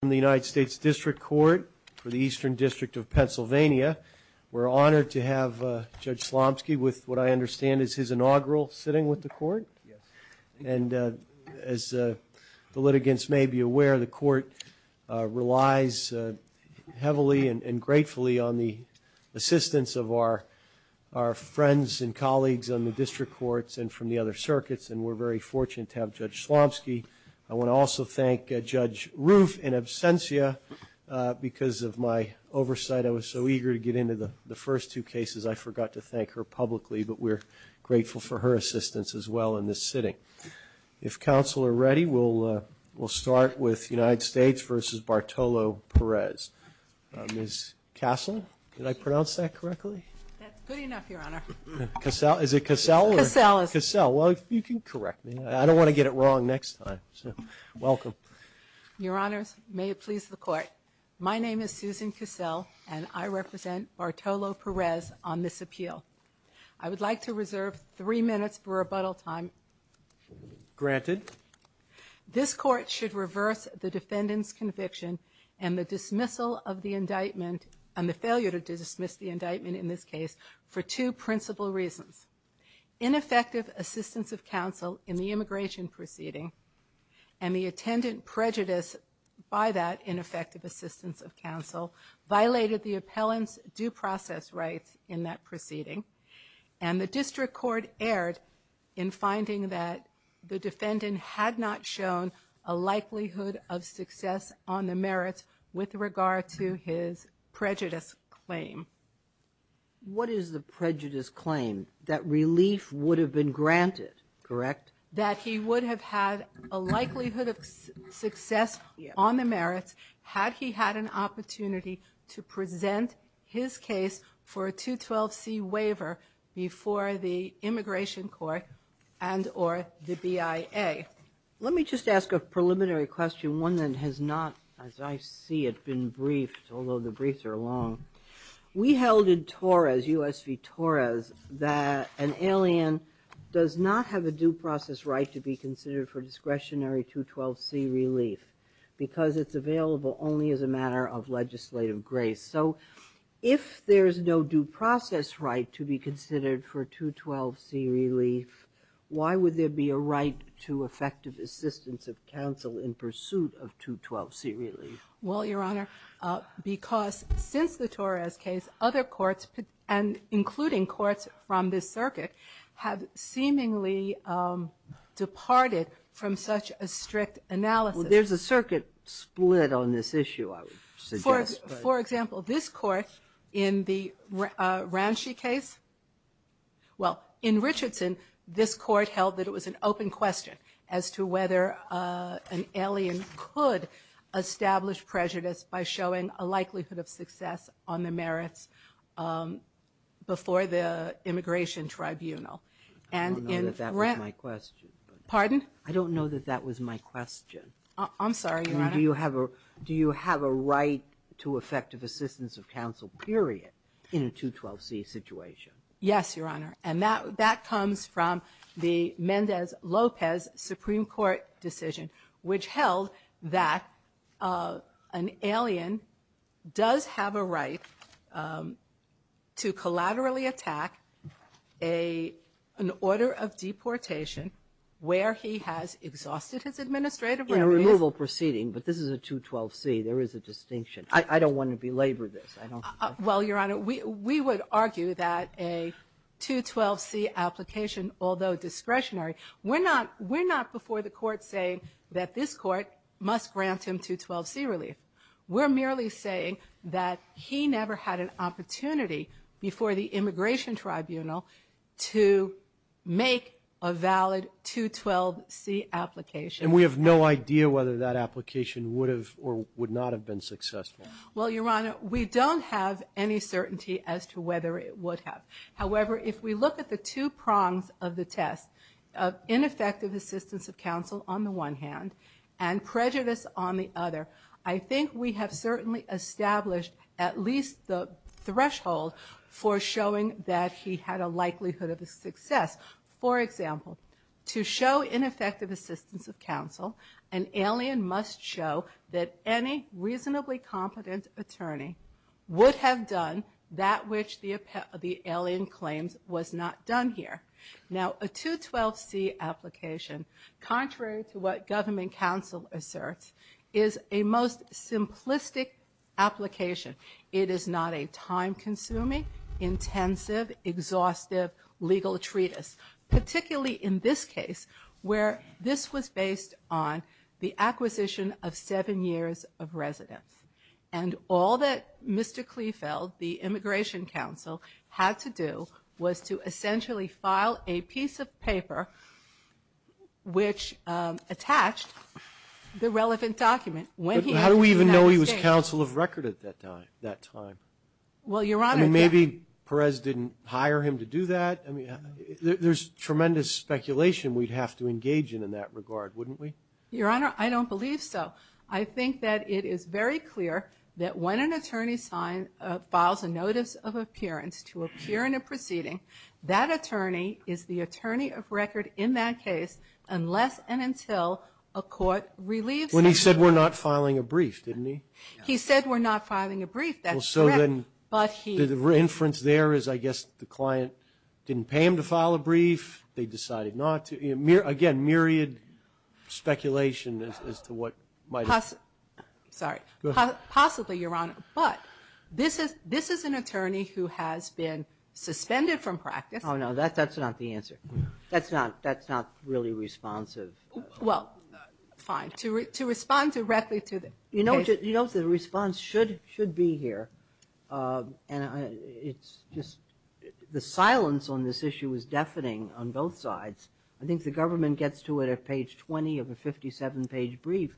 from the United States District Court for the Eastern District of Pennsylvania. We're honored to have Judge Slomski with what I understand is his inaugural sitting with the Court. Yes. And as the litigants may be aware, the Court relies heavily and gratefully on the assistance of our friends and colleagues on the District Courts and from the other circuits, and we're very fortunate to have Judge Slomski. I want to also thank Judge Roof in absentia. Because of my oversight, I was so eager to get into the first two cases, I forgot to thank her publicly, but we're grateful for her assistance as well in this sitting. If counsel are ready, we'll start with United States v. Bartolo Perez. Ms. Kaslin, did I pronounce that correctly? That's good enough, Your Honor. Is it Kassel? Kassel. Kassel. Well, you can correct me. I don't want to get it wrong next time, so welcome. Your Honors, may it please the Court. My name is Susan Kassel, and I represent Bartolo Perez on this appeal. I would like to reserve three minutes for rebuttal time. Granted. This Court should reverse the defendant's conviction and the dismissal of the indictment and the failure to dismiss the indictment in this case for two principal reasons. Ineffective assistance of counsel in the immigration proceeding and the attendant prejudice by that ineffective assistance of counsel violated the appellant's due process rights in that proceeding, and the District Court erred in finding that the defendant had not shown a likelihood of success on the merits with regard to his prejudice claim. What is the prejudice claim? That relief would have been granted, correct? That he would have had a likelihood of success on the merits had he had an opportunity to present his case for a 212C waiver before the Immigration Court and or the BIA. Let me just ask a preliminary question, one that has not, as I see it, been briefed, although the briefs are long. We held in U.S. v. Torres that an alien does not have a due process right to be considered for discretionary 212C relief because it's available only as a matter of legislative grace. So if there's no due process right to be considered for 212C relief, why would there be a right to effective assistance of counsel in pursuit of 212C relief? Well, Your Honor, because since the Torres case, other courts, and including courts from this circuit, have seemingly departed from such a strict analysis. Well, there's a circuit split on this issue, I would suggest. For example, this court in the Ransche case, well, in Richardson, this court held that it was an open question as to whether an alien could establish prejudice by showing a likelihood of success on the merits before the Immigration Tribunal. I don't know that that was my question. Pardon? I don't know that that was my question. I'm sorry, Your Honor. Do you have a right to effective assistance of counsel, period, in a 212C situation? Yes, Your Honor. And that comes from the Mendez-Lopez Supreme Court decision, which held that an alien does have a right to collaterally attack an order of deportation where he has exhausted his administrative relief. In a removal proceeding, but this is a 212C. There is a distinction. I don't want to belabor this. Well, Your Honor, we would argue that a 212C application, although discretionary, we're not before the court saying that this court must grant him 212C relief. We're merely saying that he never had an opportunity before the Immigration Tribunal to make a valid 212C application. And we have no idea whether that application would have or would not have been successful. Well, Your Honor, we don't have any certainty as to whether it would have. However, if we look at the two prongs of the test of ineffective assistance of counsel on the one hand and prejudice on the other, I think we have certainly established at least the threshold for showing that he had a likelihood of success. For example, to show ineffective assistance of counsel, an alien must show that any reasonably competent attorney would have done that which the alien claims was not done here. Now, a 212C application, contrary to what government counsel asserts, is a most simplistic application. It is not a time-consuming, intensive, exhaustive legal treatise, particularly in this case where this was based on the acquisition of seven years of residence. And all that Mr. Klefeld, the Immigration Counsel, had to do was to essentially file a piece of paper which attached the relevant document when he was in the United States. But how do we even know he was counsel of record at that time? Well, Your Honor, that... There's tremendous speculation we'd have to engage in in that regard, wouldn't we? Your Honor, I don't believe so. I think that it is very clear that when an attorney files a notice of appearance to appear in a proceeding, that attorney is the attorney of record in that case unless and until a court relieves him. When he said we're not filing a brief, didn't he? He said we're not filing a brief. That's correct. The reference there is I guess the client didn't pay him to file a brief. They decided not to. Again, myriad speculation as to what might have... Sorry. Possibly, Your Honor. But this is an attorney who has been suspended from practice. Oh, no, that's not the answer. That's not really responsive. Well, fine. To respond directly to the case... You know the response should be here. And it's just the silence on this issue is deafening on both sides. I think the government gets to it at page 20 of a 57-page brief.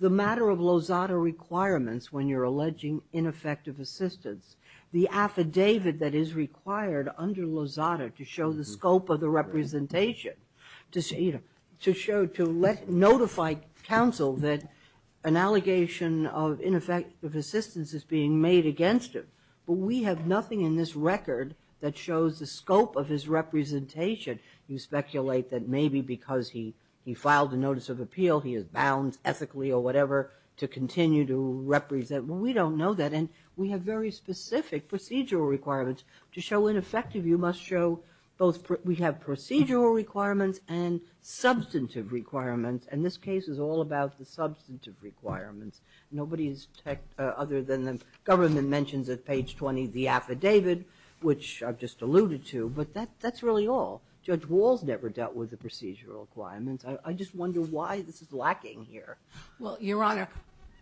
The matter of Lozada requirements when you're alleging ineffective assistance, the affidavit that is required under Lozada to show the scope of the representation, to notify counsel that an allegation of ineffective assistance is being made against him. But we have nothing in this record that shows the scope of his representation. You speculate that maybe because he filed a notice of appeal, he is bound ethically or whatever to continue to represent. Well, we don't know that. And we have very specific procedural requirements. To show ineffective, you must show both we have procedural requirements and substantive requirements. And this case is all about the substantive requirements. Nobody other than the government mentions at page 20 the affidavit, which I've just alluded to. But that's really all. Judge Walls never dealt with the procedural requirements. I just wonder why this is lacking here. Well, Your Honor,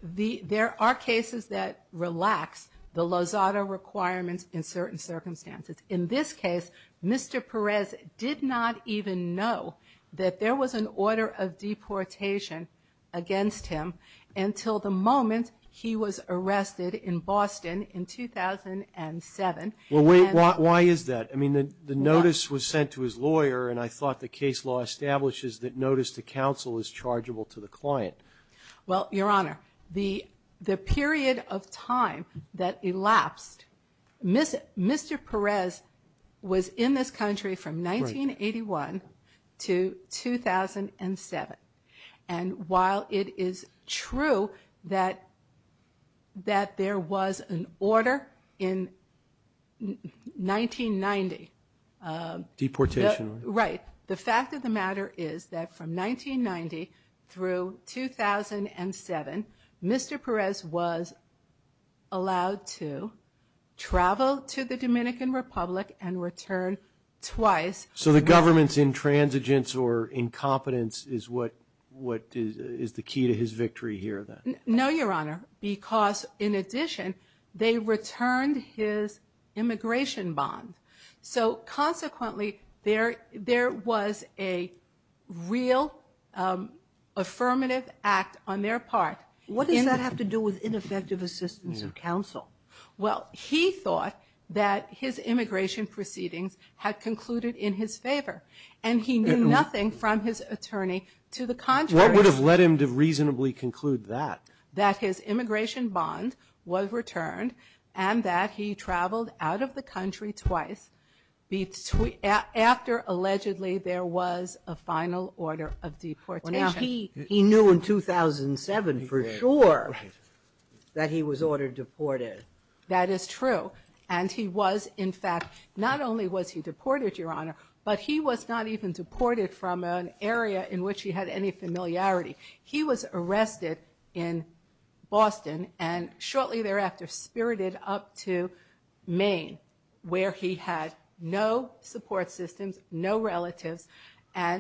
there are cases that relax the Lozada requirements in certain circumstances. In this case, Mr. Perez did not even know that there was an order of deportation against him until the moment he was arrested in Boston in 2007. Well, wait. Why is that? I mean, the notice was sent to his lawyer. And I thought the case law establishes that notice to counsel is chargeable to the client. Well, Your Honor, the period of time that elapsed, Mr. Perez was in this country from 1981 to 2007. And while it is true that there was an order in 1990. Deportation. Right. The fact of the matter is that from 1990 through 2007, Mr. Perez was allowed to travel to the Dominican Republic and return twice. So the government's intransigence or incompetence is the key to his victory here then? No, Your Honor. Because in addition, they returned his immigration bond. So consequently, there was a real affirmative act on their part. What does that have to do with ineffective assistance of counsel? Well, he thought that his immigration proceedings had concluded in his favor. And he knew nothing from his attorney to the contrary. What would have led him to reasonably conclude that? That his immigration bond was returned and that he traveled out of the country twice after, allegedly, there was a final order of deportation. He knew in 2007 for sure that he was ordered deported. That is true. And he was, in fact, not only was he deported, Your Honor, but he was not even deported from an area in which he had any familiarity. He was arrested in Boston and shortly thereafter spirited up to Maine, where he had no support systems, no relatives. All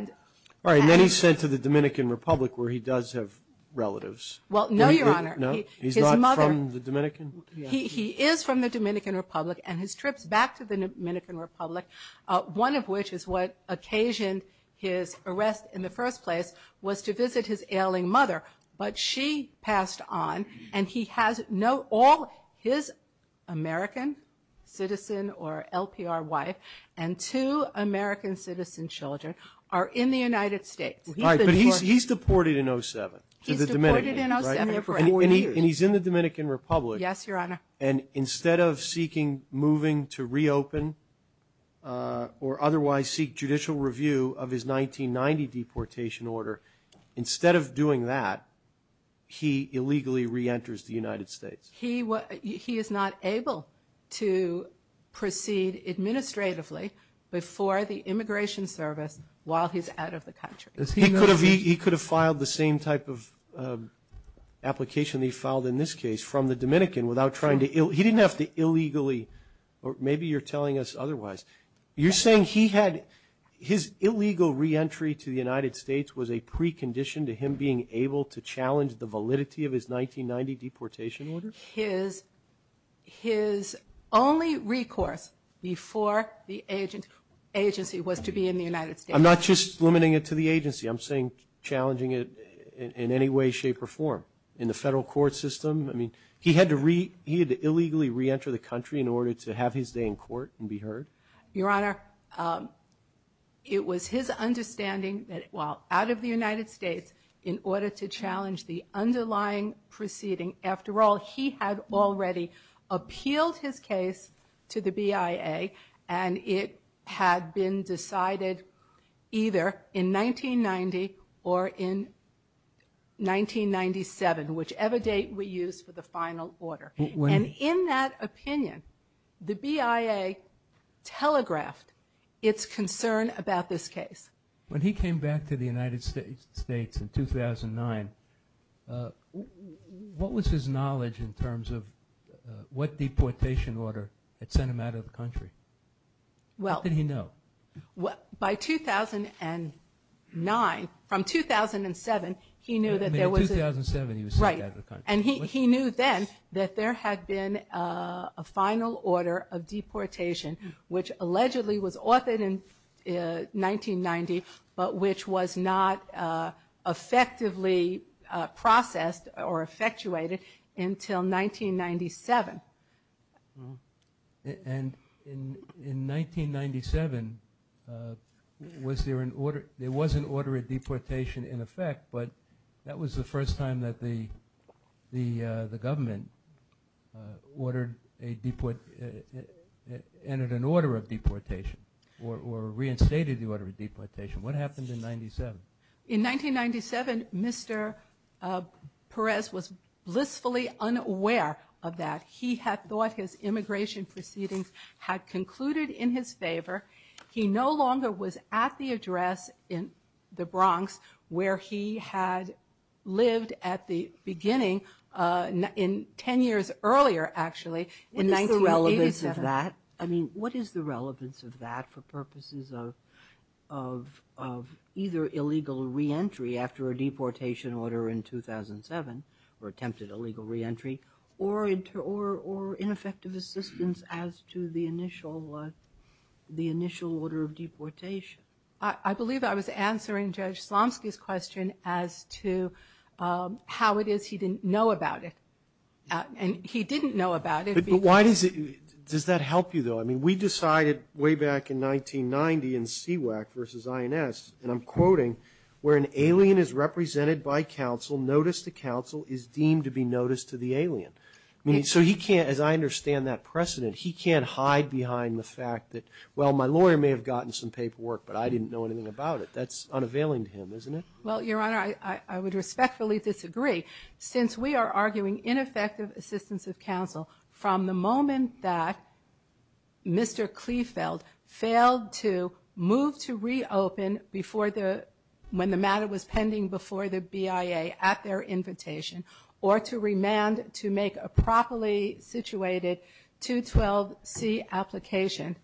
right. And then he's sent to the Dominican Republic where he does have relatives. Well, no, Your Honor. No? He's not from the Dominican? He is from the Dominican Republic. And his trips back to the Dominican Republic, one of which is what occasioned his arrest in the first place, was to visit his ailing mother. But she passed on, and he has no – all his American citizen or LPR wife and two American citizen children are in the United States. All right. But he's deported in 07 to the Dominican, right? He's deported in 07. And he's in the Dominican Republic. Yes, Your Honor. And instead of seeking moving to reopen or otherwise seek judicial review of his 1990 deportation order, instead of doing that, he illegally reenters the United States. He is not able to proceed administratively before the Immigration Service while he's out of the country. He could have filed the same type of application that he filed in this case from the Dominican without trying to – he didn't have to illegally – or maybe you're telling us otherwise. You're saying he had – his illegal reentry to the United States was a precondition to him being able to challenge the validity of his 1990 deportation order? His only recourse before the agency was to be in the United States. I'm not just limiting it to the agency. I'm saying challenging it in any way, shape, or form. In the federal court system, I mean, he had to illegally reenter the country in order to have his day in court and be heard? Your Honor, it was his understanding that while out of the United States, in order to challenge the underlying proceeding – after all, he had already appealed his case to the BIA, and it had been decided either in 1990 or in 1997, whichever date we use for the final order. And in that opinion, the BIA telegraphed its concern about this case. When he came back to the United States in 2009, what was his knowledge in terms of what deportation order had sent him out of the country? What did he know? By 2009, from 2007, he knew that there was a – In 2007, he was sent out of the country. And he knew then that there had been a final order of deportation, which allegedly was authored in 1990, but which was not effectively processed or effectuated until 1997. And in 1997, was there an order – there was an order of deportation in effect, but that was the first time that the government ordered a – entered an order of deportation or reinstated the order of deportation. What happened in 1997? In 1997, Mr. Perez was blissfully unaware of that. He had thought his immigration proceedings had concluded in his favor. He no longer was at the address in the Bronx where he had lived at the beginning in – 10 years earlier, actually, in 1987. What is the relevance of that? I mean, what is the relevance of that for purposes of either illegal reentry after a deportation order in 2007 or attempted illegal reentry or ineffective assistance as to the initial order of deportation? I believe I was answering Judge Slomski's question as to how it is he didn't know about it. And he didn't know about it because – But why does it – does that help you, though? I mean, we decided way back in 1990 in CWAC versus INS, and I'm quoting, where an alien is represented by counsel, notice to counsel is deemed to be notice to the alien. I mean, so he can't – as I understand that precedent, he can't hide behind the fact that, well, my lawyer may have gotten some paperwork, but I didn't know anything about it. That's unavailing to him, isn't it? Well, Your Honor, I would respectfully disagree, since we are arguing ineffective assistance of counsel from the moment that Mr. Klefeld failed to move to reopen before the – at their invitation or to remand to make a properly situated 212C application.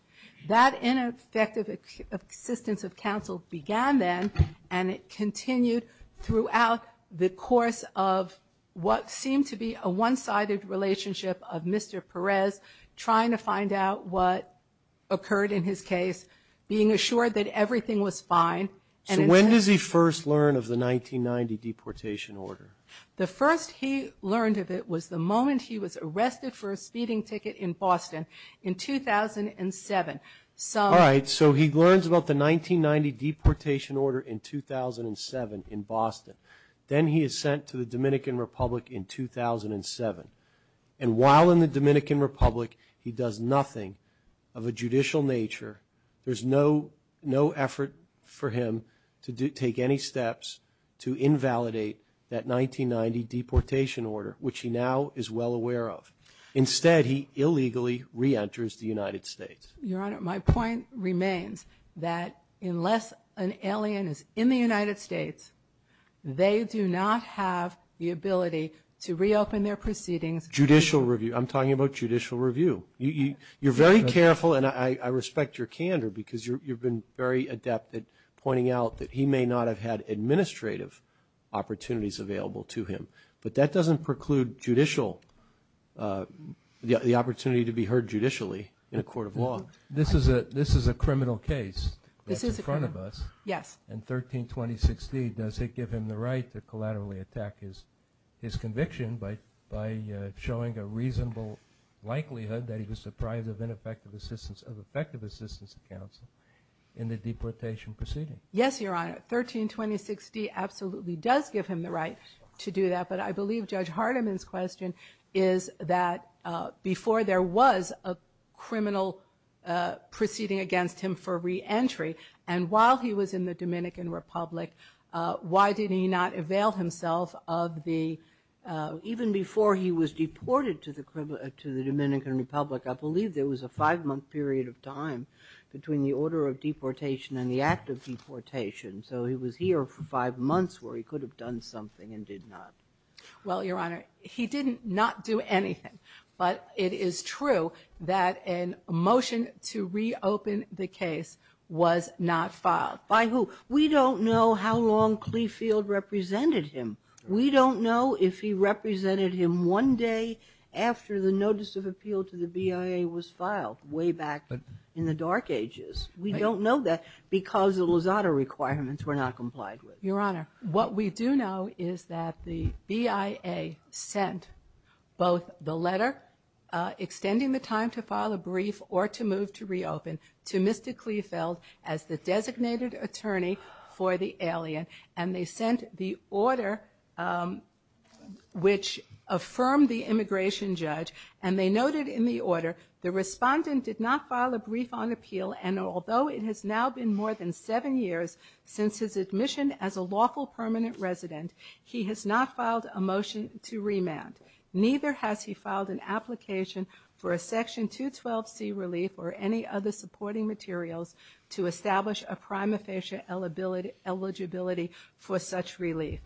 That ineffective assistance of counsel began then, and it continued throughout the course of what seemed to be a one-sided relationship of Mr. Perez trying to find out what occurred in his case, So when does he first learn of the 1990 deportation order? The first he learned of it was the moment he was arrested for a speeding ticket in Boston in 2007. All right, so he learns about the 1990 deportation order in 2007 in Boston. Then he is sent to the Dominican Republic in 2007, and while in the Dominican Republic he does nothing of a judicial nature. There's no effort for him to take any steps to invalidate that 1990 deportation order, which he now is well aware of. Instead, he illegally reenters the United States. Your Honor, my point remains that unless an alien is in the United States, they do not have the ability to reopen their proceedings. Judicial review. I'm talking about judicial review. You're very careful, and I respect your candor because you've been very adept at pointing out that he may not have had administrative opportunities available to him. But that doesn't preclude the opportunity to be heard judicially in a court of law. This is a criminal case that's in front of us. Yes. In 13-2016, does it give him the right to collaterally attack his conviction by showing a reasonable likelihood that he was deprived of effective assistance of counsel in the deportation proceeding? Yes, Your Honor. 13-2016 absolutely does give him the right to do that, but I believe Judge Hardiman's question is that before there was a criminal proceeding against him for reentry and while he was in the Dominican Republic, why did he not avail himself of the... Even before he was deported to the Dominican Republic, I believe there was a five-month period of time between the order of deportation and the act of deportation. So he was here for five months where he could have done something and did not. Well, Your Honor, he did not do anything. But it is true that a motion to reopen the case was not filed. By who? We don't know how long Kleefeld represented him. We don't know if he represented him one day after the notice of appeal to the BIA was filed, way back in the dark ages. We don't know that because the Lozada requirements were not complied with. Your Honor, what we do know is that the BIA sent both the letter extending the time to file a brief or to move to reopen to Mr. Kleefeld as the designated attorney for the alien and they sent the order which affirmed the immigration judge and they noted in the order the respondent did not file a brief on appeal and although it has now been more than seven years since his admission as a lawful permanent resident, he has not filed a motion to remand. Neither has he filed an application for a section 212C relief or any other supporting materials to establish a prima facie eligibility for such relief.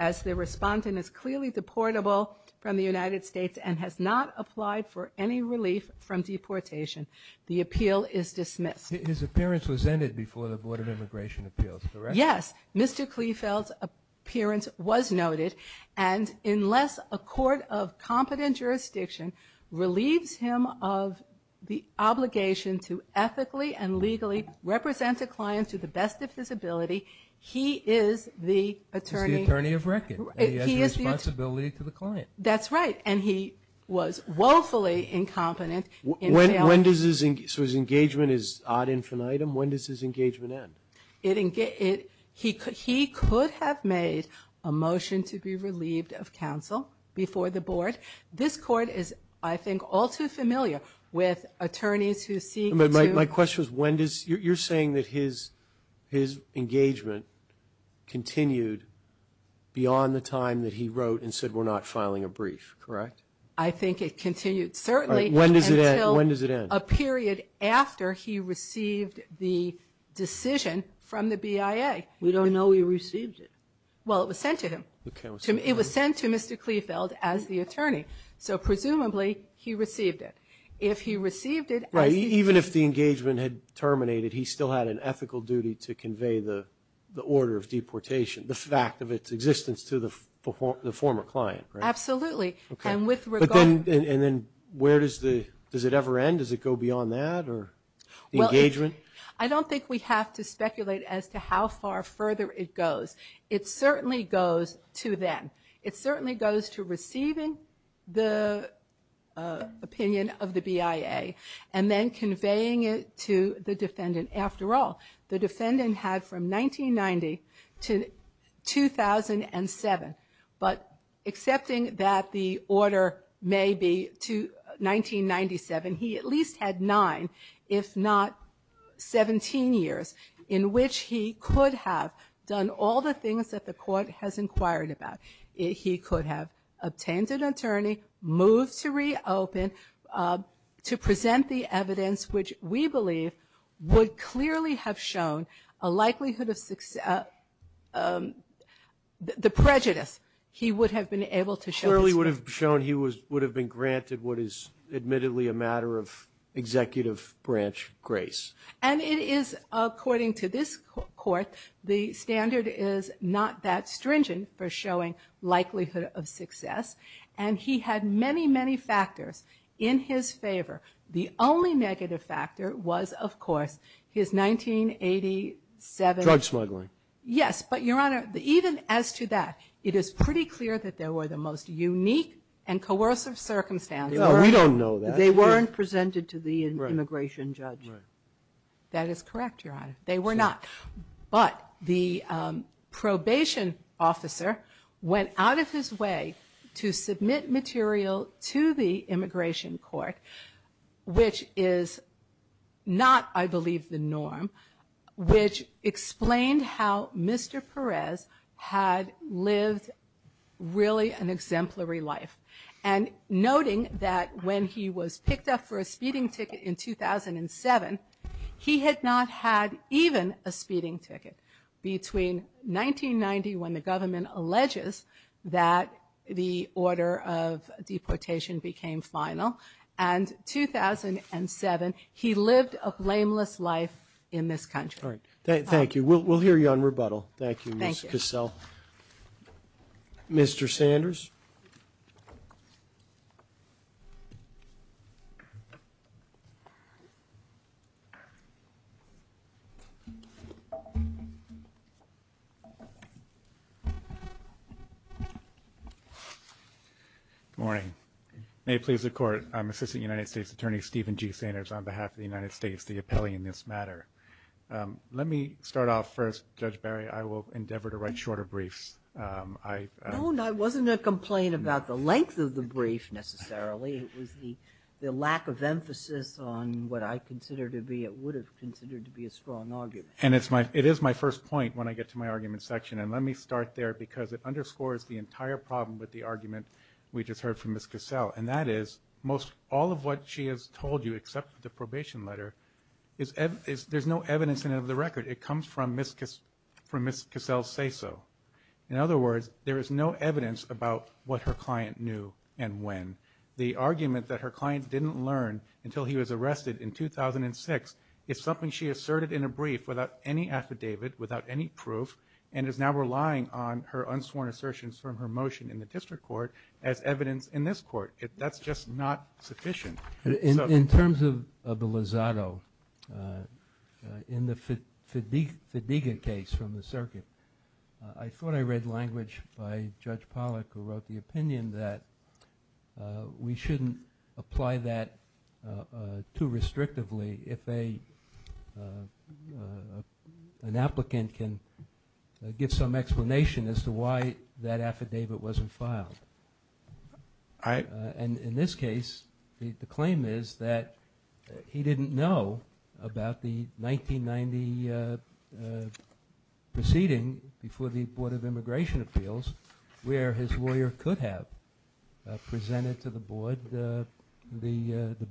As the respondent is clearly deportable from the United States and has not applied for any relief from deportation, the appeal is dismissed. His appearance was ended before the Board of Immigration Appeals, correct? Yes, Mr. Kleefeld's appearance was noted and unless a court of competent jurisdiction relieves him of the obligation to ethically and legally represent a client to the best of his ability, he is the attorney. He's the attorney of record and he has the responsibility to the client. That's right and he was woefully incompetent in failing. So his engagement is ad infinitum? When does his engagement end? He could have made a motion to be relieved of counsel before the board. This court is, I think, all too familiar with attorneys who seek to... My question is when does... you're saying that his engagement continued beyond the time that he wrote and said we're not filing a brief, correct? I think it continued, certainly... When does it end? A period after he received the decision from the BIA. We don't know he received it. Well, it was sent to him. It was sent to Mr. Kleefeld as the attorney, so presumably he received it. If he received it... Right, even if the engagement had terminated, he still had an ethical duty to convey the order of deportation, the fact of its existence to the former client, right? Absolutely and with regard... And then where does it ever end? Does it go beyond that or the engagement? I don't think we have to speculate as to how far further it goes. It certainly goes to then. It certainly goes to receiving the opinion of the BIA and then conveying it to the defendant. After all, the defendant had from 1990 to 2007, but accepting that the order may be to 1997, he at least had nine, if not 17 years, in which he could have done all the things that the court has inquired about. He could have obtained an attorney, moved to reopen to present the evidence which we believe would clearly have shown a likelihood of success... the prejudice he would have been able to show... Clearly would have shown he would have been granted what is admittedly a matter of executive branch grace. And it is, according to this court, the standard is not that stringent for showing likelihood of success and he had many, many factors in his favor. The only negative factor was, of course, his 1987... Drug smuggling. Yes, but, Your Honor, even as to that, it is pretty clear that there were the most unique and coercive circumstances. No, we don't know that. They weren't presented to the immigration judge. Right. That is correct, Your Honor. They were not. But the probation officer went out of his way to submit material to the immigration court, which is not, I believe, the norm, which explained how Mr. Perez had lived really an exemplary life. And noting that when he was picked up for a speeding ticket in 2007, he had not had even a speeding ticket. Between 1990, when the government alleges that the order of deportation became final, and 2007, he lived a blameless life in this country. All right. Thank you. We'll hear you on rebuttal. Thank you, Ms. Cassell. Thank you. Mr. Sanders. Good morning. May it please the Court, I'm Assistant United States Attorney Stephen G. Sanders on behalf of the United States, the appellee in this matter. Let me start off first, Judge Barry. I will endeavor to write shorter briefs. No, it wasn't a complaint about the length of the brief, necessarily. It was the lack of emphasis on what I consider to be or would have considered to be a strong argument. And it is my first point when I get to my argument section, and let me start there because it underscores the entire problem with the argument we just heard from Ms. Cassell, and that is all of what she has told you, except the probation letter, there's no evidence in it of the record. It comes from Ms. Cassell's say-so. In other words, there is no evidence about what her client knew and when. The argument that her client didn't learn until he was arrested in 2006 is something she asserted in a brief without any affidavit, without any proof, and is now relying on her unsworn assertions from her motion in the district court as evidence in this court. That's just not sufficient. In terms of the Lozado, in the Fadiga case from the circuit, I thought I read language by Judge Pollack who wrote the opinion that we shouldn't apply that too restrictively if an applicant can give some explanation as to why that affidavit wasn't filed. In this case, the claim is that he didn't know about the 1990 proceeding before the Board of Immigration Appeals where his lawyer could have presented to the board the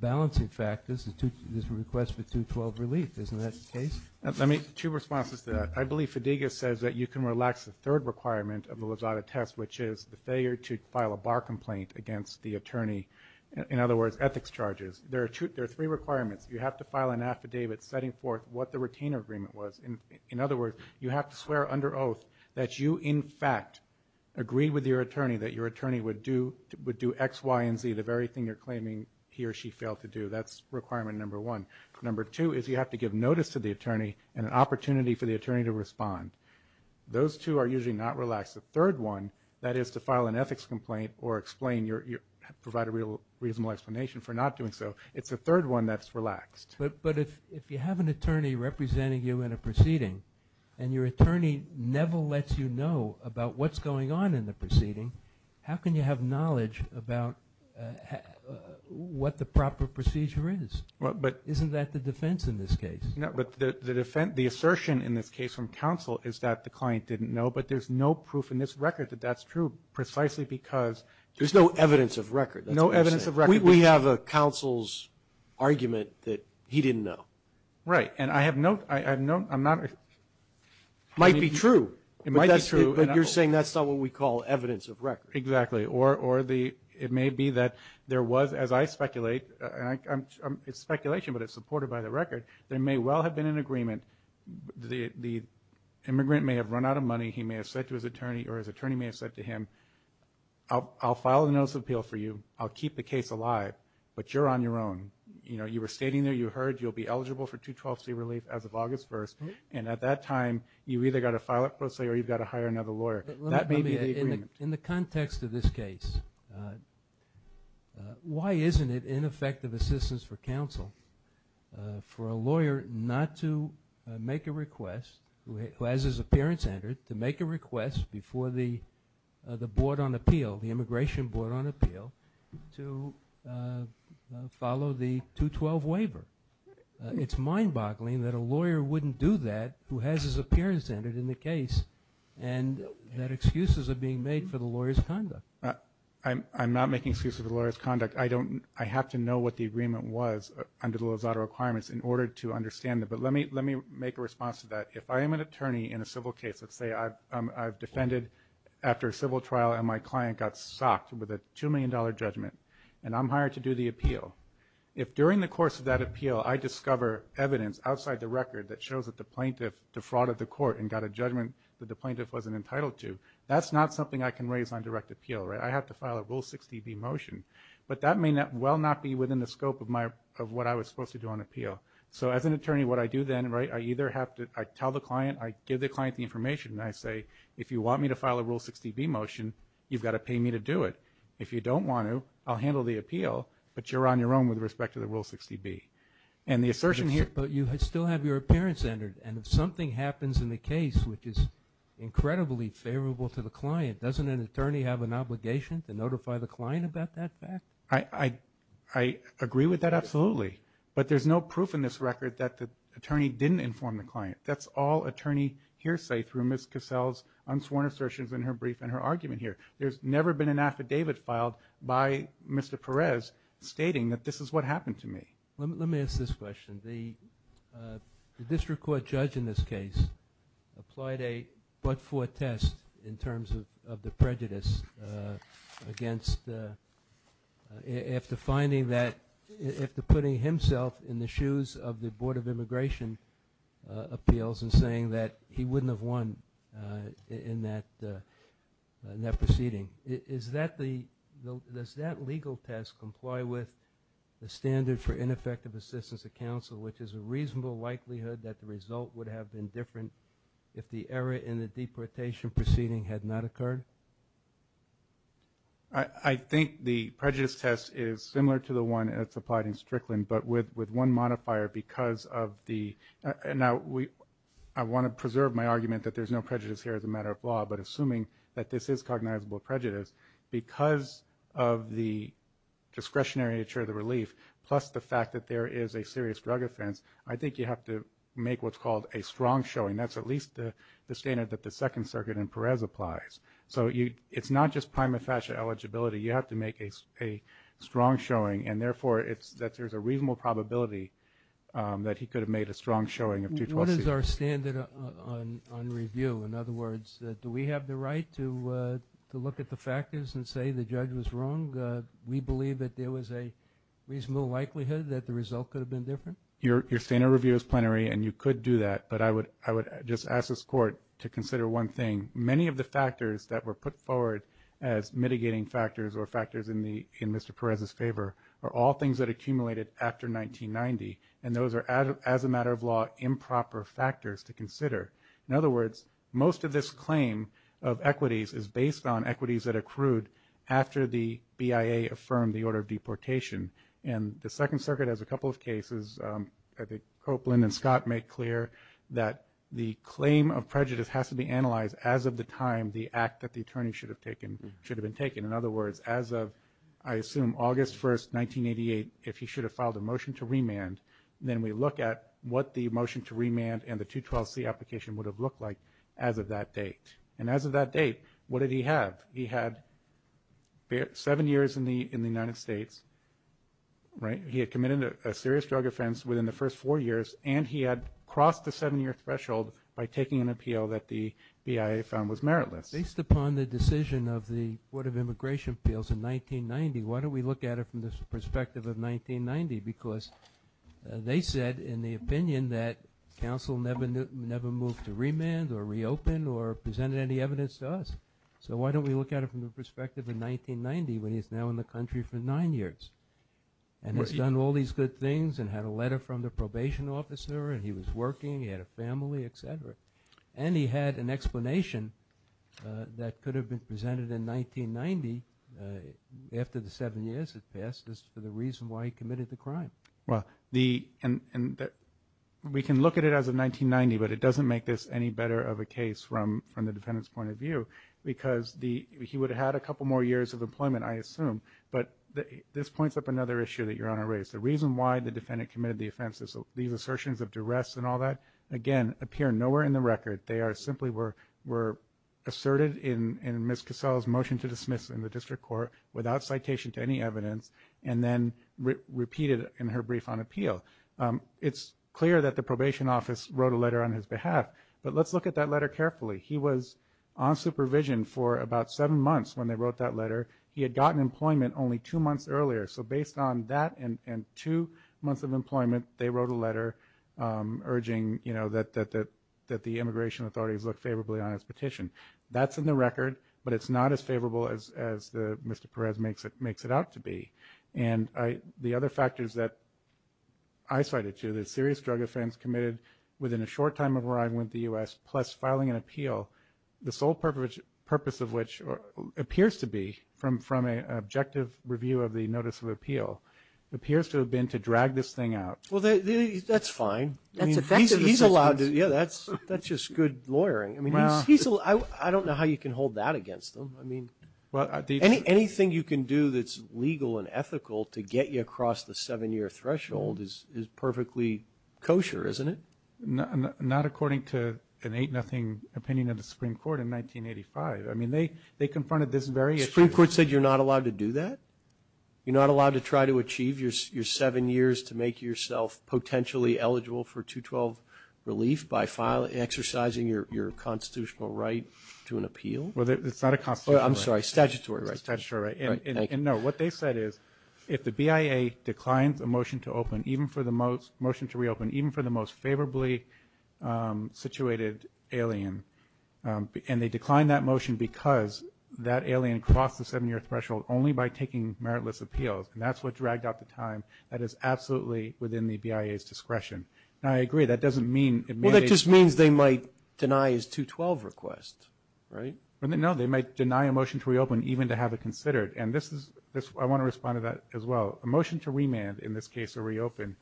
balancing factors, this request for 212 relief. Isn't that the case? Two responses to that. I believe Fadiga says that you can relax the third requirement of the Lozado test, which is the failure to file a bar complaint against the attorney, in other words, ethics charges. There are three requirements. You have to file an affidavit setting forth what the retainer agreement was. In other words, you have to swear under oath that you, in fact, agreed with your attorney that your attorney would do X, Y, and Z, the very thing you're claiming he or she failed to do. That's requirement number one. Number two is you have to give notice to the attorney and an opportunity for the attorney to respond. Those two are usually not relaxed. The third one, that is, to file an ethics complaint or provide a reasonable explanation for not doing so, it's the third one that's relaxed. But if you have an attorney representing you in a proceeding and your attorney never lets you know about what's going on in the proceeding, how can you have knowledge about what the proper procedure is? Isn't that the defense in this case? No, but the assertion in this case from counsel is that the client didn't know, but there's no proof in this record that that's true precisely because no evidence of record. We have a counsel's argument that he didn't know. Right. And I have no, I'm not. It might be true. It might be true. But you're saying that's not what we call evidence of record. Exactly. Or it may be that there was, as I speculate, and it's speculation but it's supported by the record, there may well have been an agreement. The immigrant may have run out of money. He may have said to his attorney or his attorney may have said to him, I'll file a notice of appeal for you. I'll keep the case alive, but you're on your own. You know, you were stating there you heard you'll be eligible for 212C relief as of August 1st, and at that time you've either got to file it pro se or you've got to hire another lawyer. That may be the agreement. In the context of this case, why isn't it ineffective assistance for counsel for a lawyer not to make a request, who has his appearance entered, to make a request before the board on appeal, the immigration board on appeal, to follow the 212 waiver? It's mind-boggling that a lawyer wouldn't do that, who has his appearance entered in the case, and that excuses are being made for the lawyer's conduct. I'm not making excuses for the lawyer's conduct. I have to know what the agreement was under the Lozada requirements in order to understand it. But let me make a response to that. If I am an attorney in a civil case, let's say I've defended after a civil trial and my client got socked with a $2 million judgment, and I'm hired to do the appeal. If during the course of that appeal I discover evidence outside the record that shows that the plaintiff defrauded the court and got a judgment that the plaintiff wasn't entitled to, that's not something I can raise on direct appeal. I have to file a Rule 60B motion. But that may well not be within the scope of what I was supposed to do on appeal. So as an attorney, what I do then, I either have to tell the client, I give the client the information, and I say, if you want me to file a Rule 60B motion, you've got to pay me to do it. If you don't want to, I'll handle the appeal, but you're on your own with respect to the Rule 60B. And the assertion here – But you still have your appearance entered, and if something happens in the case which is incredibly favorable to the client, doesn't an attorney have an obligation to notify the client about that fact? I agree with that absolutely. But there's no proof in this record that the attorney didn't inform the client. That's all attorney hearsay through Ms. Cassell's unsworn assertions in her brief and her argument here. There's never been an affidavit filed by Mr. Perez stating that this is what happened to me. Let me ask this question. The district court judge in this case applied a but-for test in terms of the prejudice against – after finding that – after putting himself in the shoes of the Board of Immigration Appeals and saying that he wouldn't have won in that proceeding. Does that legal test comply with the standard for ineffective assistance to counsel, which is a reasonable likelihood that the result would have been different if the error in the deportation proceeding had not occurred? I think the prejudice test is similar to the one that's applied in Strickland, but with one modifier because of the – now I want to preserve my argument that there's no prejudice here as a matter of law, but assuming that this is cognizable prejudice because of the discretionary nature of the relief plus the fact that there is a serious drug offense, I think you have to make what's called a strong showing. That's at least the standard that the Second Circuit in Perez applies. So it's not just prima facie eligibility. You have to make a strong showing, and therefore that there's a reasonable probability that he could have made a strong showing of 212C. What is our standard on review? In other words, do we have the right to look at the factors and say the judge was wrong? We believe that there was a reasonable likelihood that the result could have been different? Your standard review is plenary, and you could do that, but I would just ask this court to consider one thing. Many of the factors that were put forward as mitigating factors or factors in Mr. Perez's favor are all things that accumulated after 1990, and those are, as a matter of law, improper factors to consider. In other words, most of this claim of equities is based on equities that accrued after the BIA affirmed the order of deportation, and the Second Circuit has a couple of cases. I think Copeland and Scott make clear that the claim of prejudice has to be analyzed as of the time the act that the attorney should have been taking. In other words, as of, I assume, August 1st, 1988, if he should have filed a motion to remand, then we look at what the motion to remand and the 212C application would have looked like as of that date. And as of that date, what did he have? He had seven years in the United States. He had committed a serious drug offense within the first four years, and he had crossed the seven-year threshold by taking an appeal that the BIA found was meritless. Based upon the decision of the Board of Immigration Appeals in 1990, why don't we look at it from the perspective of 1990? Because they said in the opinion that counsel never moved to remand or reopen or presented any evidence to us. So why don't we look at it from the perspective of 1990 when he's now in the country for nine years? And he's done all these good things and had a letter from the probation officer, and he was working, he had a family, et cetera. And he had an explanation that could have been presented in 1990 after the seven years had passed as to the reason why he committed the crime. Well, we can look at it as of 1990, but it doesn't make this any better of a case from the defendant's point of view. Because he would have had a couple more years of employment, I assume. But this points up another issue that Your Honor raised. The reason why the defendant committed the offense is these assertions of duress and all that, again, appear nowhere in the record. They simply were asserted in Ms. Cassell's motion to dismiss in the district court without citation to any evidence and then repeated in her brief on appeal. It's clear that the probation office wrote a letter on his behalf, but let's look at that letter carefully. He was on supervision for about seven months when they wrote that letter. He had gotten employment only two months earlier. So based on that and two months of employment, they wrote a letter urging, you know, that the immigration authorities look favorably on his petition. That's in the record, but it's not as favorable as Mr. Perez makes it out to be. And the other factors that I cited too, the serious drug offense committed within a short time of where I went to the U.S., plus filing an appeal, the sole purpose of which appears to be, from an objective review of the notice of appeal, appears to have been to drag this thing out. Well, that's fine. That's effective assistance. Yeah, that's just good lawyering. I mean, I don't know how you can hold that against them. I mean, anything you can do that's legal and ethical to get you across the seven-year threshold is perfectly kosher, isn't it? Not according to an eight-nothing opinion of the Supreme Court in 1985. I mean, they confronted this very issue. The Supreme Court said you're not allowed to do that? You're not allowed to try to achieve your seven years to make yourself potentially eligible for 212 relief by exercising your constitutional right to an appeal? Well, it's not a constitutional right. I'm sorry, statutory right. Statutory right. And, no, what they said is, if the BIA declines a motion to reopen even for the most favorably situated alien and they decline that motion because that alien crossed the seven-year threshold only by taking meritless appeals, and that's what dragged out the time, that is absolutely within the BIA's discretion. Now, I agree, that doesn't mean it mandates. Well, that just means they might deny his 212 request, right? No, they might deny a motion to reopen even to have it considered. And I want to respond to that as well. A motion to remand, in this case a reopen,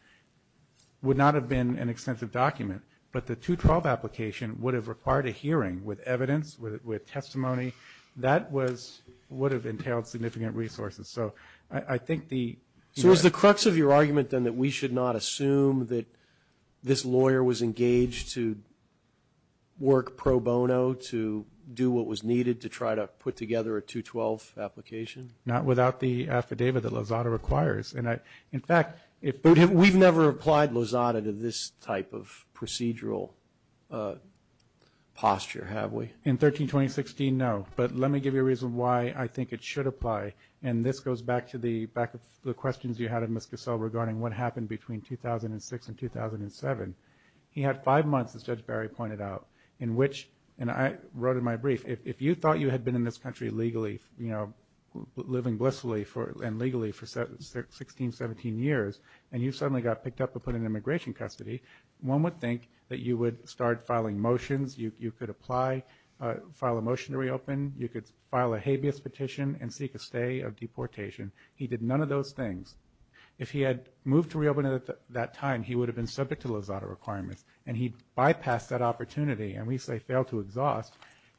would not have been an extensive document, but the 212 application would have required a hearing with evidence, with testimony. That would have entailed significant resources. So I think the ‑‑ So is the crux of your argument, then, that we should not assume that this lawyer was engaged to work pro bono to do what was needed to try to put together a 212 application? Not without the affidavit that Lozada requires. In fact, if ‑‑ But we've never applied Lozada to this type of procedural posture, have we? In 13-2016, no. But let me give you a reason why I think it should apply, and this goes back to the questions you had of Ms. Cassell regarding what happened between 2006 and 2007. He had five months, as Judge Barry pointed out, in which, and I wrote in my brief, if you thought you had been in this country legally, living blissfully and legally for 16, 17 years, and you suddenly got picked up and put in immigration custody, one would think that you would start filing motions, you could apply, file a motion to reopen, you could file a habeas petition and seek a stay of deportation. He did none of those things. If he had moved to reopen at that time, he would have been subject to Lozada requirements, and he bypassed that opportunity, and we say failed to exhaust,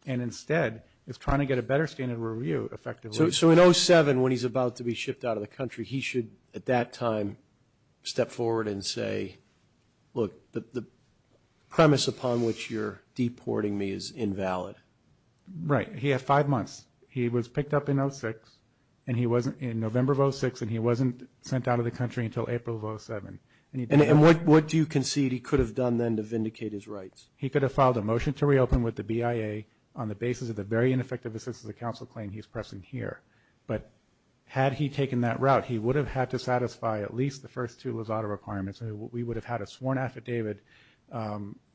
and instead is trying to get a better standard of review, effectively. So in 2007, when he's about to be shipped out of the country, he should, at that time, step forward and say, look, the premise upon which you're deporting me is invalid. Right. He had five months. He was picked up in 2006, and he wasn't, in November of 2006, and he wasn't sent out of the country until April of 2007. And what do you concede he could have done then to vindicate his rights? He could have filed a motion to reopen with the BIA on the basis of the very ineffective assistance of the council claim he's pressing here. But had he taken that route, he would have had to satisfy at least the first two Lozada requirements, and we would have had a sworn affidavit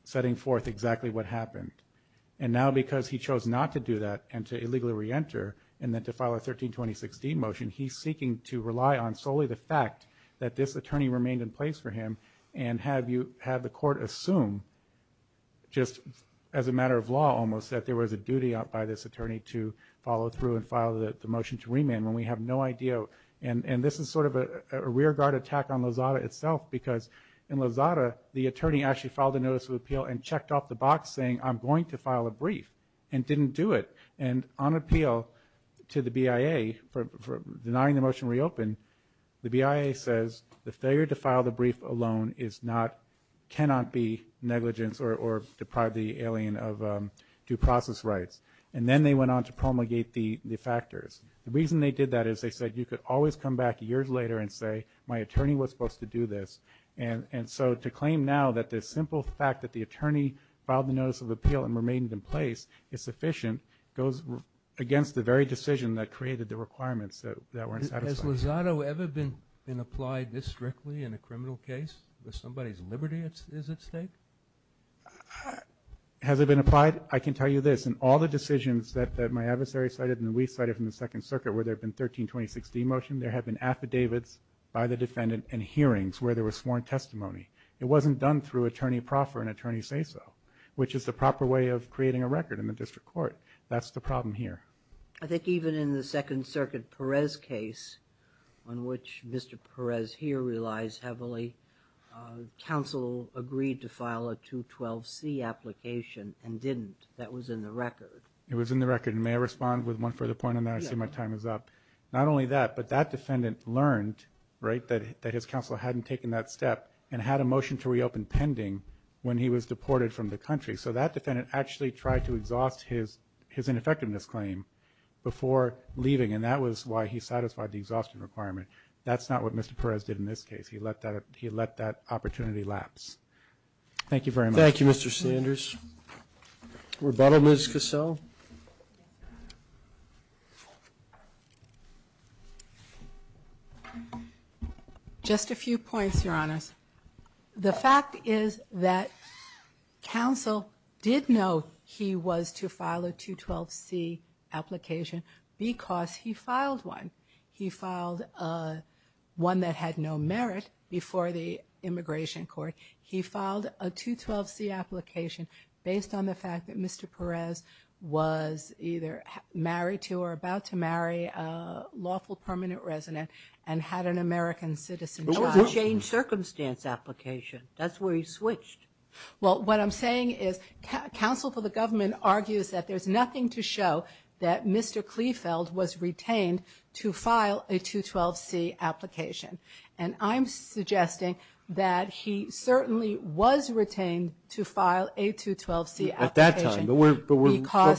setting forth exactly what happened. And now, because he chose not to do that and to illegally reenter, and then to file a 13-2016 motion, he's seeking to rely on solely the fact that this attorney remained in place for him and had the court assume just as a matter of law almost that there was a duty up by this attorney to follow through and file the motion to remand when we have no idea. And this is sort of a rearguard attack on Lozada itself because in Lozada, the attorney actually filed a notice of appeal and checked off the box saying, I'm going to file a brief, and didn't do it. And on appeal to the BIA for denying the motion to reopen, the BIA says the failure to file the brief alone cannot be negligence or deprive the alien of due process rights. And then they went on to promulgate the factors. The reason they did that is they said you could always come back years later and say my attorney was supposed to do this. And so to claim now that the simple fact that the attorney filed the notice of appeal and remained in place is sufficient goes against the very decision that created the requirements that weren't satisfied. Has Lozada ever been applied this strictly in a criminal case where somebody's liberty is at stake? Has it been applied? I can tell you this. In all the decisions that my adversary cited and we cited from the Second Circuit where there had been 1320-16 motion, there had been affidavits by the defendant and hearings where there was sworn testimony. It wasn't done through attorney proffer and attorney say-so, which is the proper way of creating a record in the district court. That's the problem here. I think even in the Second Circuit Perez case, on which Mr. Perez here relies heavily, counsel agreed to file a 212C application and didn't. That was in the record. It was in the record. May I respond with one further point on that? I see my time is up. Not only that, but that defendant learned, right, that his counsel hadn't taken that step and had a motion to reopen pending when he was deported from the country. So that defendant actually tried to exhaust his ineffectiveness claim before leaving, and that was why he satisfied the exhaustion requirement. That's not what Mr. Perez did in this case. He let that opportunity lapse. Thank you very much. Thank you, Mr. Sanders. Rebuttal, Ms. Cassell? Rebuttal. Just a few points, Your Honors. The fact is that counsel did know he was to file a 212C application because he filed one. He filed one that had no merit before the immigration court. He filed a 212C application based on the fact that Mr. Perez was either married to or about to marry a lawful permanent resident and had an American citizen child. It was a changed circumstance application. That's where he switched. Well, what I'm saying is counsel for the government argues that there's nothing to show that Mr. Kleefeld was retained to file a 212C application, and I'm suggesting that he certainly was retained to file a 212C application. At that time, but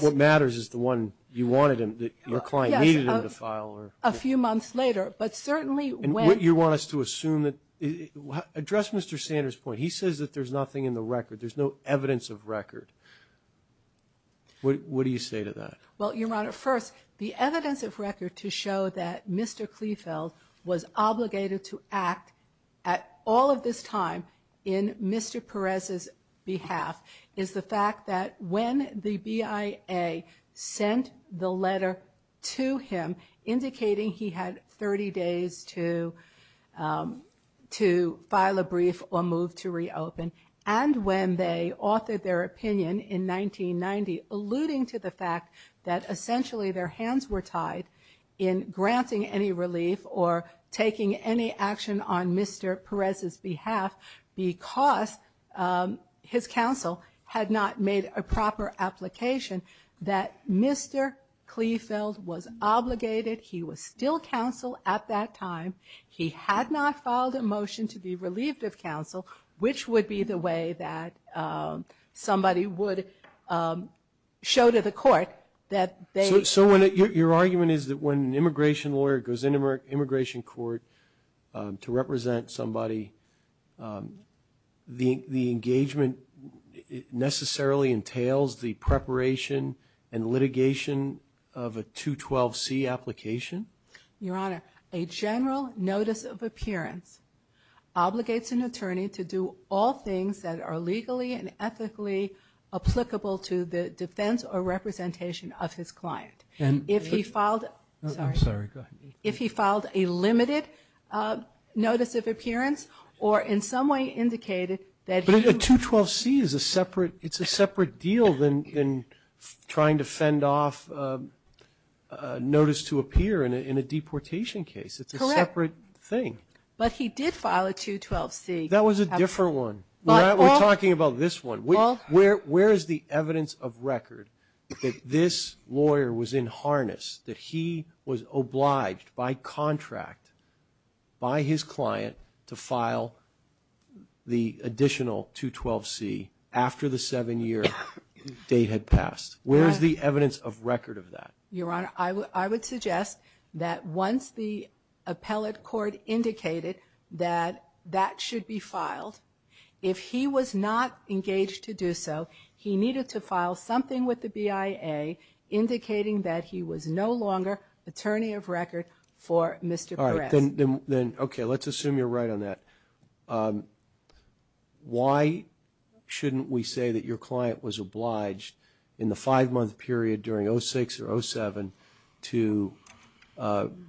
what matters is the one you wanted him, that your client needed him to file. Yes, a few months later, but certainly when you want us to assume that address Mr. Sanders' point. He says that there's nothing in the record. There's no evidence of record. What do you say to that? Well, Your Honor, first, the evidence of record to show that Mr. Kleefeld was obligated to act at all of this time in Mr. Perez's behalf is the fact that when the BIA sent the letter to him indicating he had 30 days to file a brief or move to reopen, and when they authored their opinion in 1990 alluding to the fact that essentially their hands were tied in granting any relief or taking any action on Mr. Perez's behalf because his counsel had not made a proper application that Mr. Kleefeld was obligated. He was still counsel at that time. He had not filed a motion to be relieved of counsel, which would be the way that somebody would show to the court that they. So your argument is that when an immigration lawyer goes into an immigration court to represent somebody, the engagement necessarily entails the preparation and litigation of a 212C application? Your Honor, a general notice of appearance obligates an attorney to do all things that are legally and ethically applicable to the defense or representation of his client. If he filed a limited notice of appearance or in some way indicated that he. A 212C is a separate, it's a separate deal than trying to fend off notice to appear in a deportation case. It's a separate thing. But he did file a 212C. That was a different one. We're talking about this one. Where is the evidence of record that this lawyer was in harness, that he was obliged by contract by his client to file the additional 212C after the seven year date had passed? Where is the evidence of record of that? Your Honor, I would suggest that once the appellate court indicated that that should be filed, if he was not engaged to do so, he needed to file something with the BIA indicating that he was no longer attorney of record for Mr. Bress. All right. Then, okay, let's assume you're right on that. Why shouldn't we say that your client was obliged in the five month period during 06 or 07 to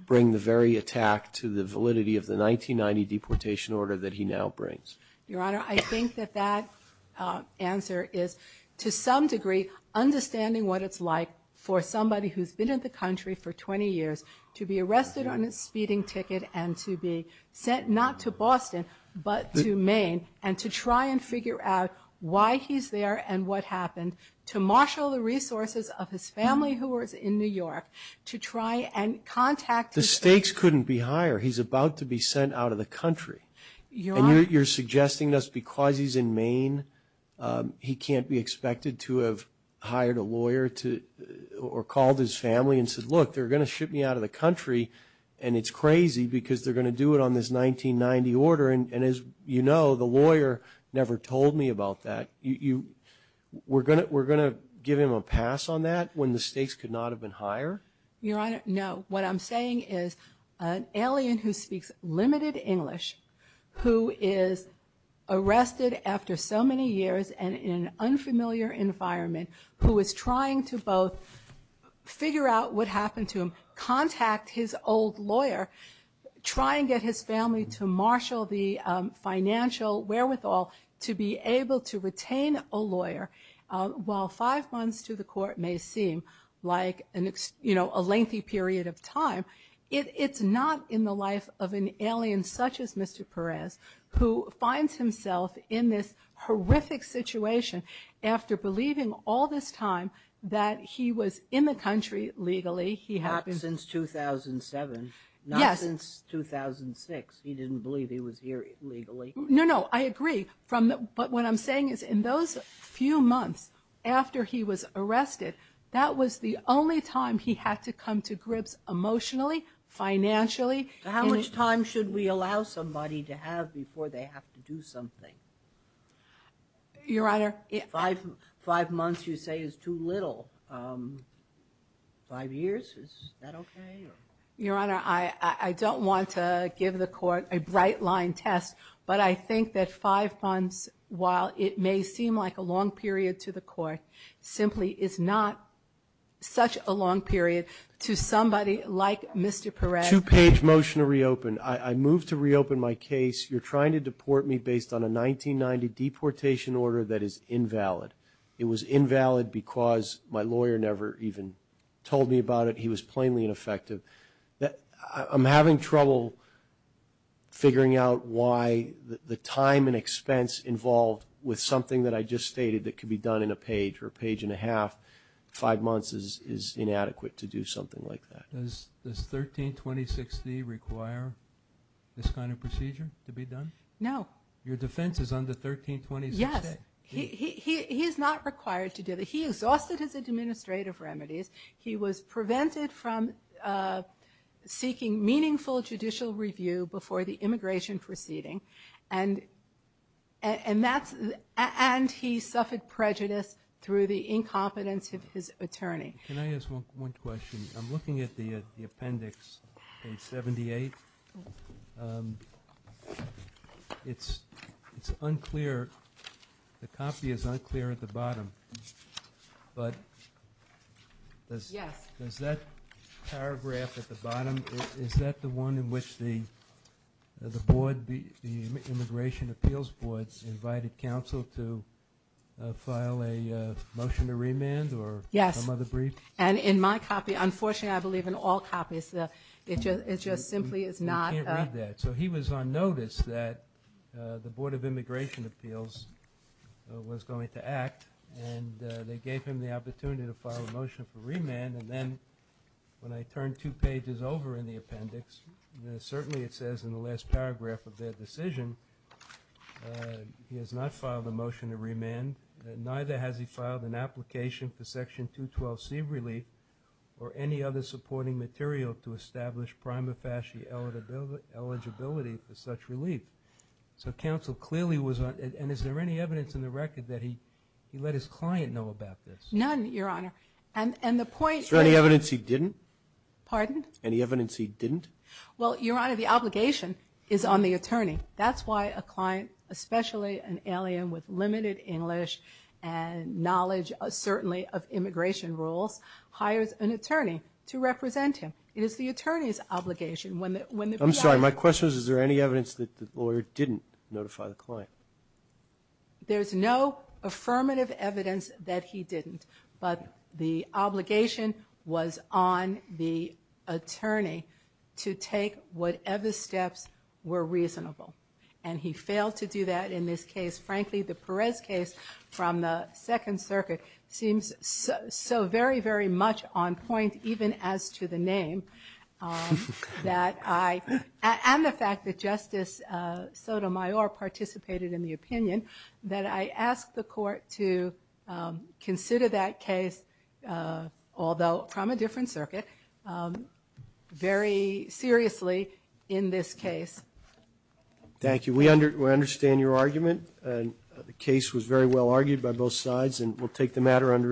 bring the very attack to the validity of the 1990 deportation order that he now brings? Your Honor, I think that that answer is to some degree understanding what it's like for somebody who's been in the country for 20 years to be arrested on a speeding ticket and to be sent not to Boston but to Maine and to try and figure out why he's there and what happened, to marshal the resources of his family who was in New York to try and contact his family. The stakes couldn't be higher. He's about to be sent out of the country. And you're suggesting just because he's in Maine, he can't be expected to have hired a lawyer or called his family and said, look, they're going to ship me out of the country and it's crazy because they're going to do it on this 1990 order. And as you know, the lawyer never told me about that. We're going to give him a pass on that when the stakes could not have been higher? Your Honor, no. What I'm saying is an alien who speaks limited English, who is arrested after so many years and in an unfamiliar environment, who is trying to both figure out what happened to him, contact his old lawyer, try and get his family to marshal the financial wherewithal to be able to retain a lawyer. While five months to the court may seem like a lengthy period of time, it's not in the life of an alien such as Mr. Perez, who finds himself in this horrific situation after believing all this time that he was in the country legally. Not since 2007. Not since 2006. He didn't believe he was here legally. No, no. I agree. But what I'm saying is in those few months after he was arrested, that was the only time he had to come to grips emotionally, financially. How much time should we allow somebody to have before they have to do something? Your Honor? Five months you say is too little. Five years, is that okay? Your Honor, I don't want to give the court a bright line test, but I think that five months, while it may seem like a long period to the court, simply is not such a long period to somebody like Mr. Perez. Two-page motion to reopen. I move to reopen my case. You're trying to deport me based on a 1990 deportation order that is invalid. It was invalid because my lawyer never even told me about it. He was plainly ineffective. I'm having trouble figuring out why the time and expense involved with something that I just stated that could be done in a page or a page and a half five months is inadequate to do something like that. Does 1326D require this kind of procedure to be done? No. Your defense is under 1326A. Yes. He is not required to do that. He exhausted his administrative remedies. He was prevented from seeking meaningful judicial review before the immigration proceeding, and he suffered prejudice through the incompetence of his attorney. Can I ask one question? I'm looking at the appendix in 78. It's unclear. The copy is unclear at the bottom. But does that paragraph at the bottom, is that the one in which the board, the Immigration Appeals Board, invited counsel to file a motion to remand or some other brief? Yes. And in my copy, unfortunately I believe in all copies, it just simply is not. You can't read that. So he was on notice that the Board of Immigration Appeals was going to act, and they gave him the opportunity to file a motion for remand. And then when I turned two pages over in the appendix, certainly it says in the last paragraph of their decision he has not filed a motion to remand, and neither has he filed an application for Section 212C relief or any other supporting material to establish prima facie eligibility for such relief. So counsel clearly was on, and is there any evidence in the record that he let his client know about this? None, Your Honor. Is there any evidence he didn't? Pardon? Any evidence he didn't? Well, Your Honor, the obligation is on the attorney. That's why a client, especially an alien with limited English and knowledge certainly of immigration rules, hires an attorney to represent him. It is the attorney's obligation. I'm sorry. My question is, is there any evidence that the lawyer didn't notify the client? There's no affirmative evidence that he didn't, but the obligation was on the attorney to take whatever steps were reasonable, and he failed to do that in this case. The case from the Second Circuit seems so very, very much on point, even as to the name that I, and the fact that Justice Sotomayor participated in the opinion, that I ask the Court to consider that case, although from a different circuit, very seriously in this case. Thank you. We understand your argument. The case was very well argued by both sides, and we'll take the matter under advisement.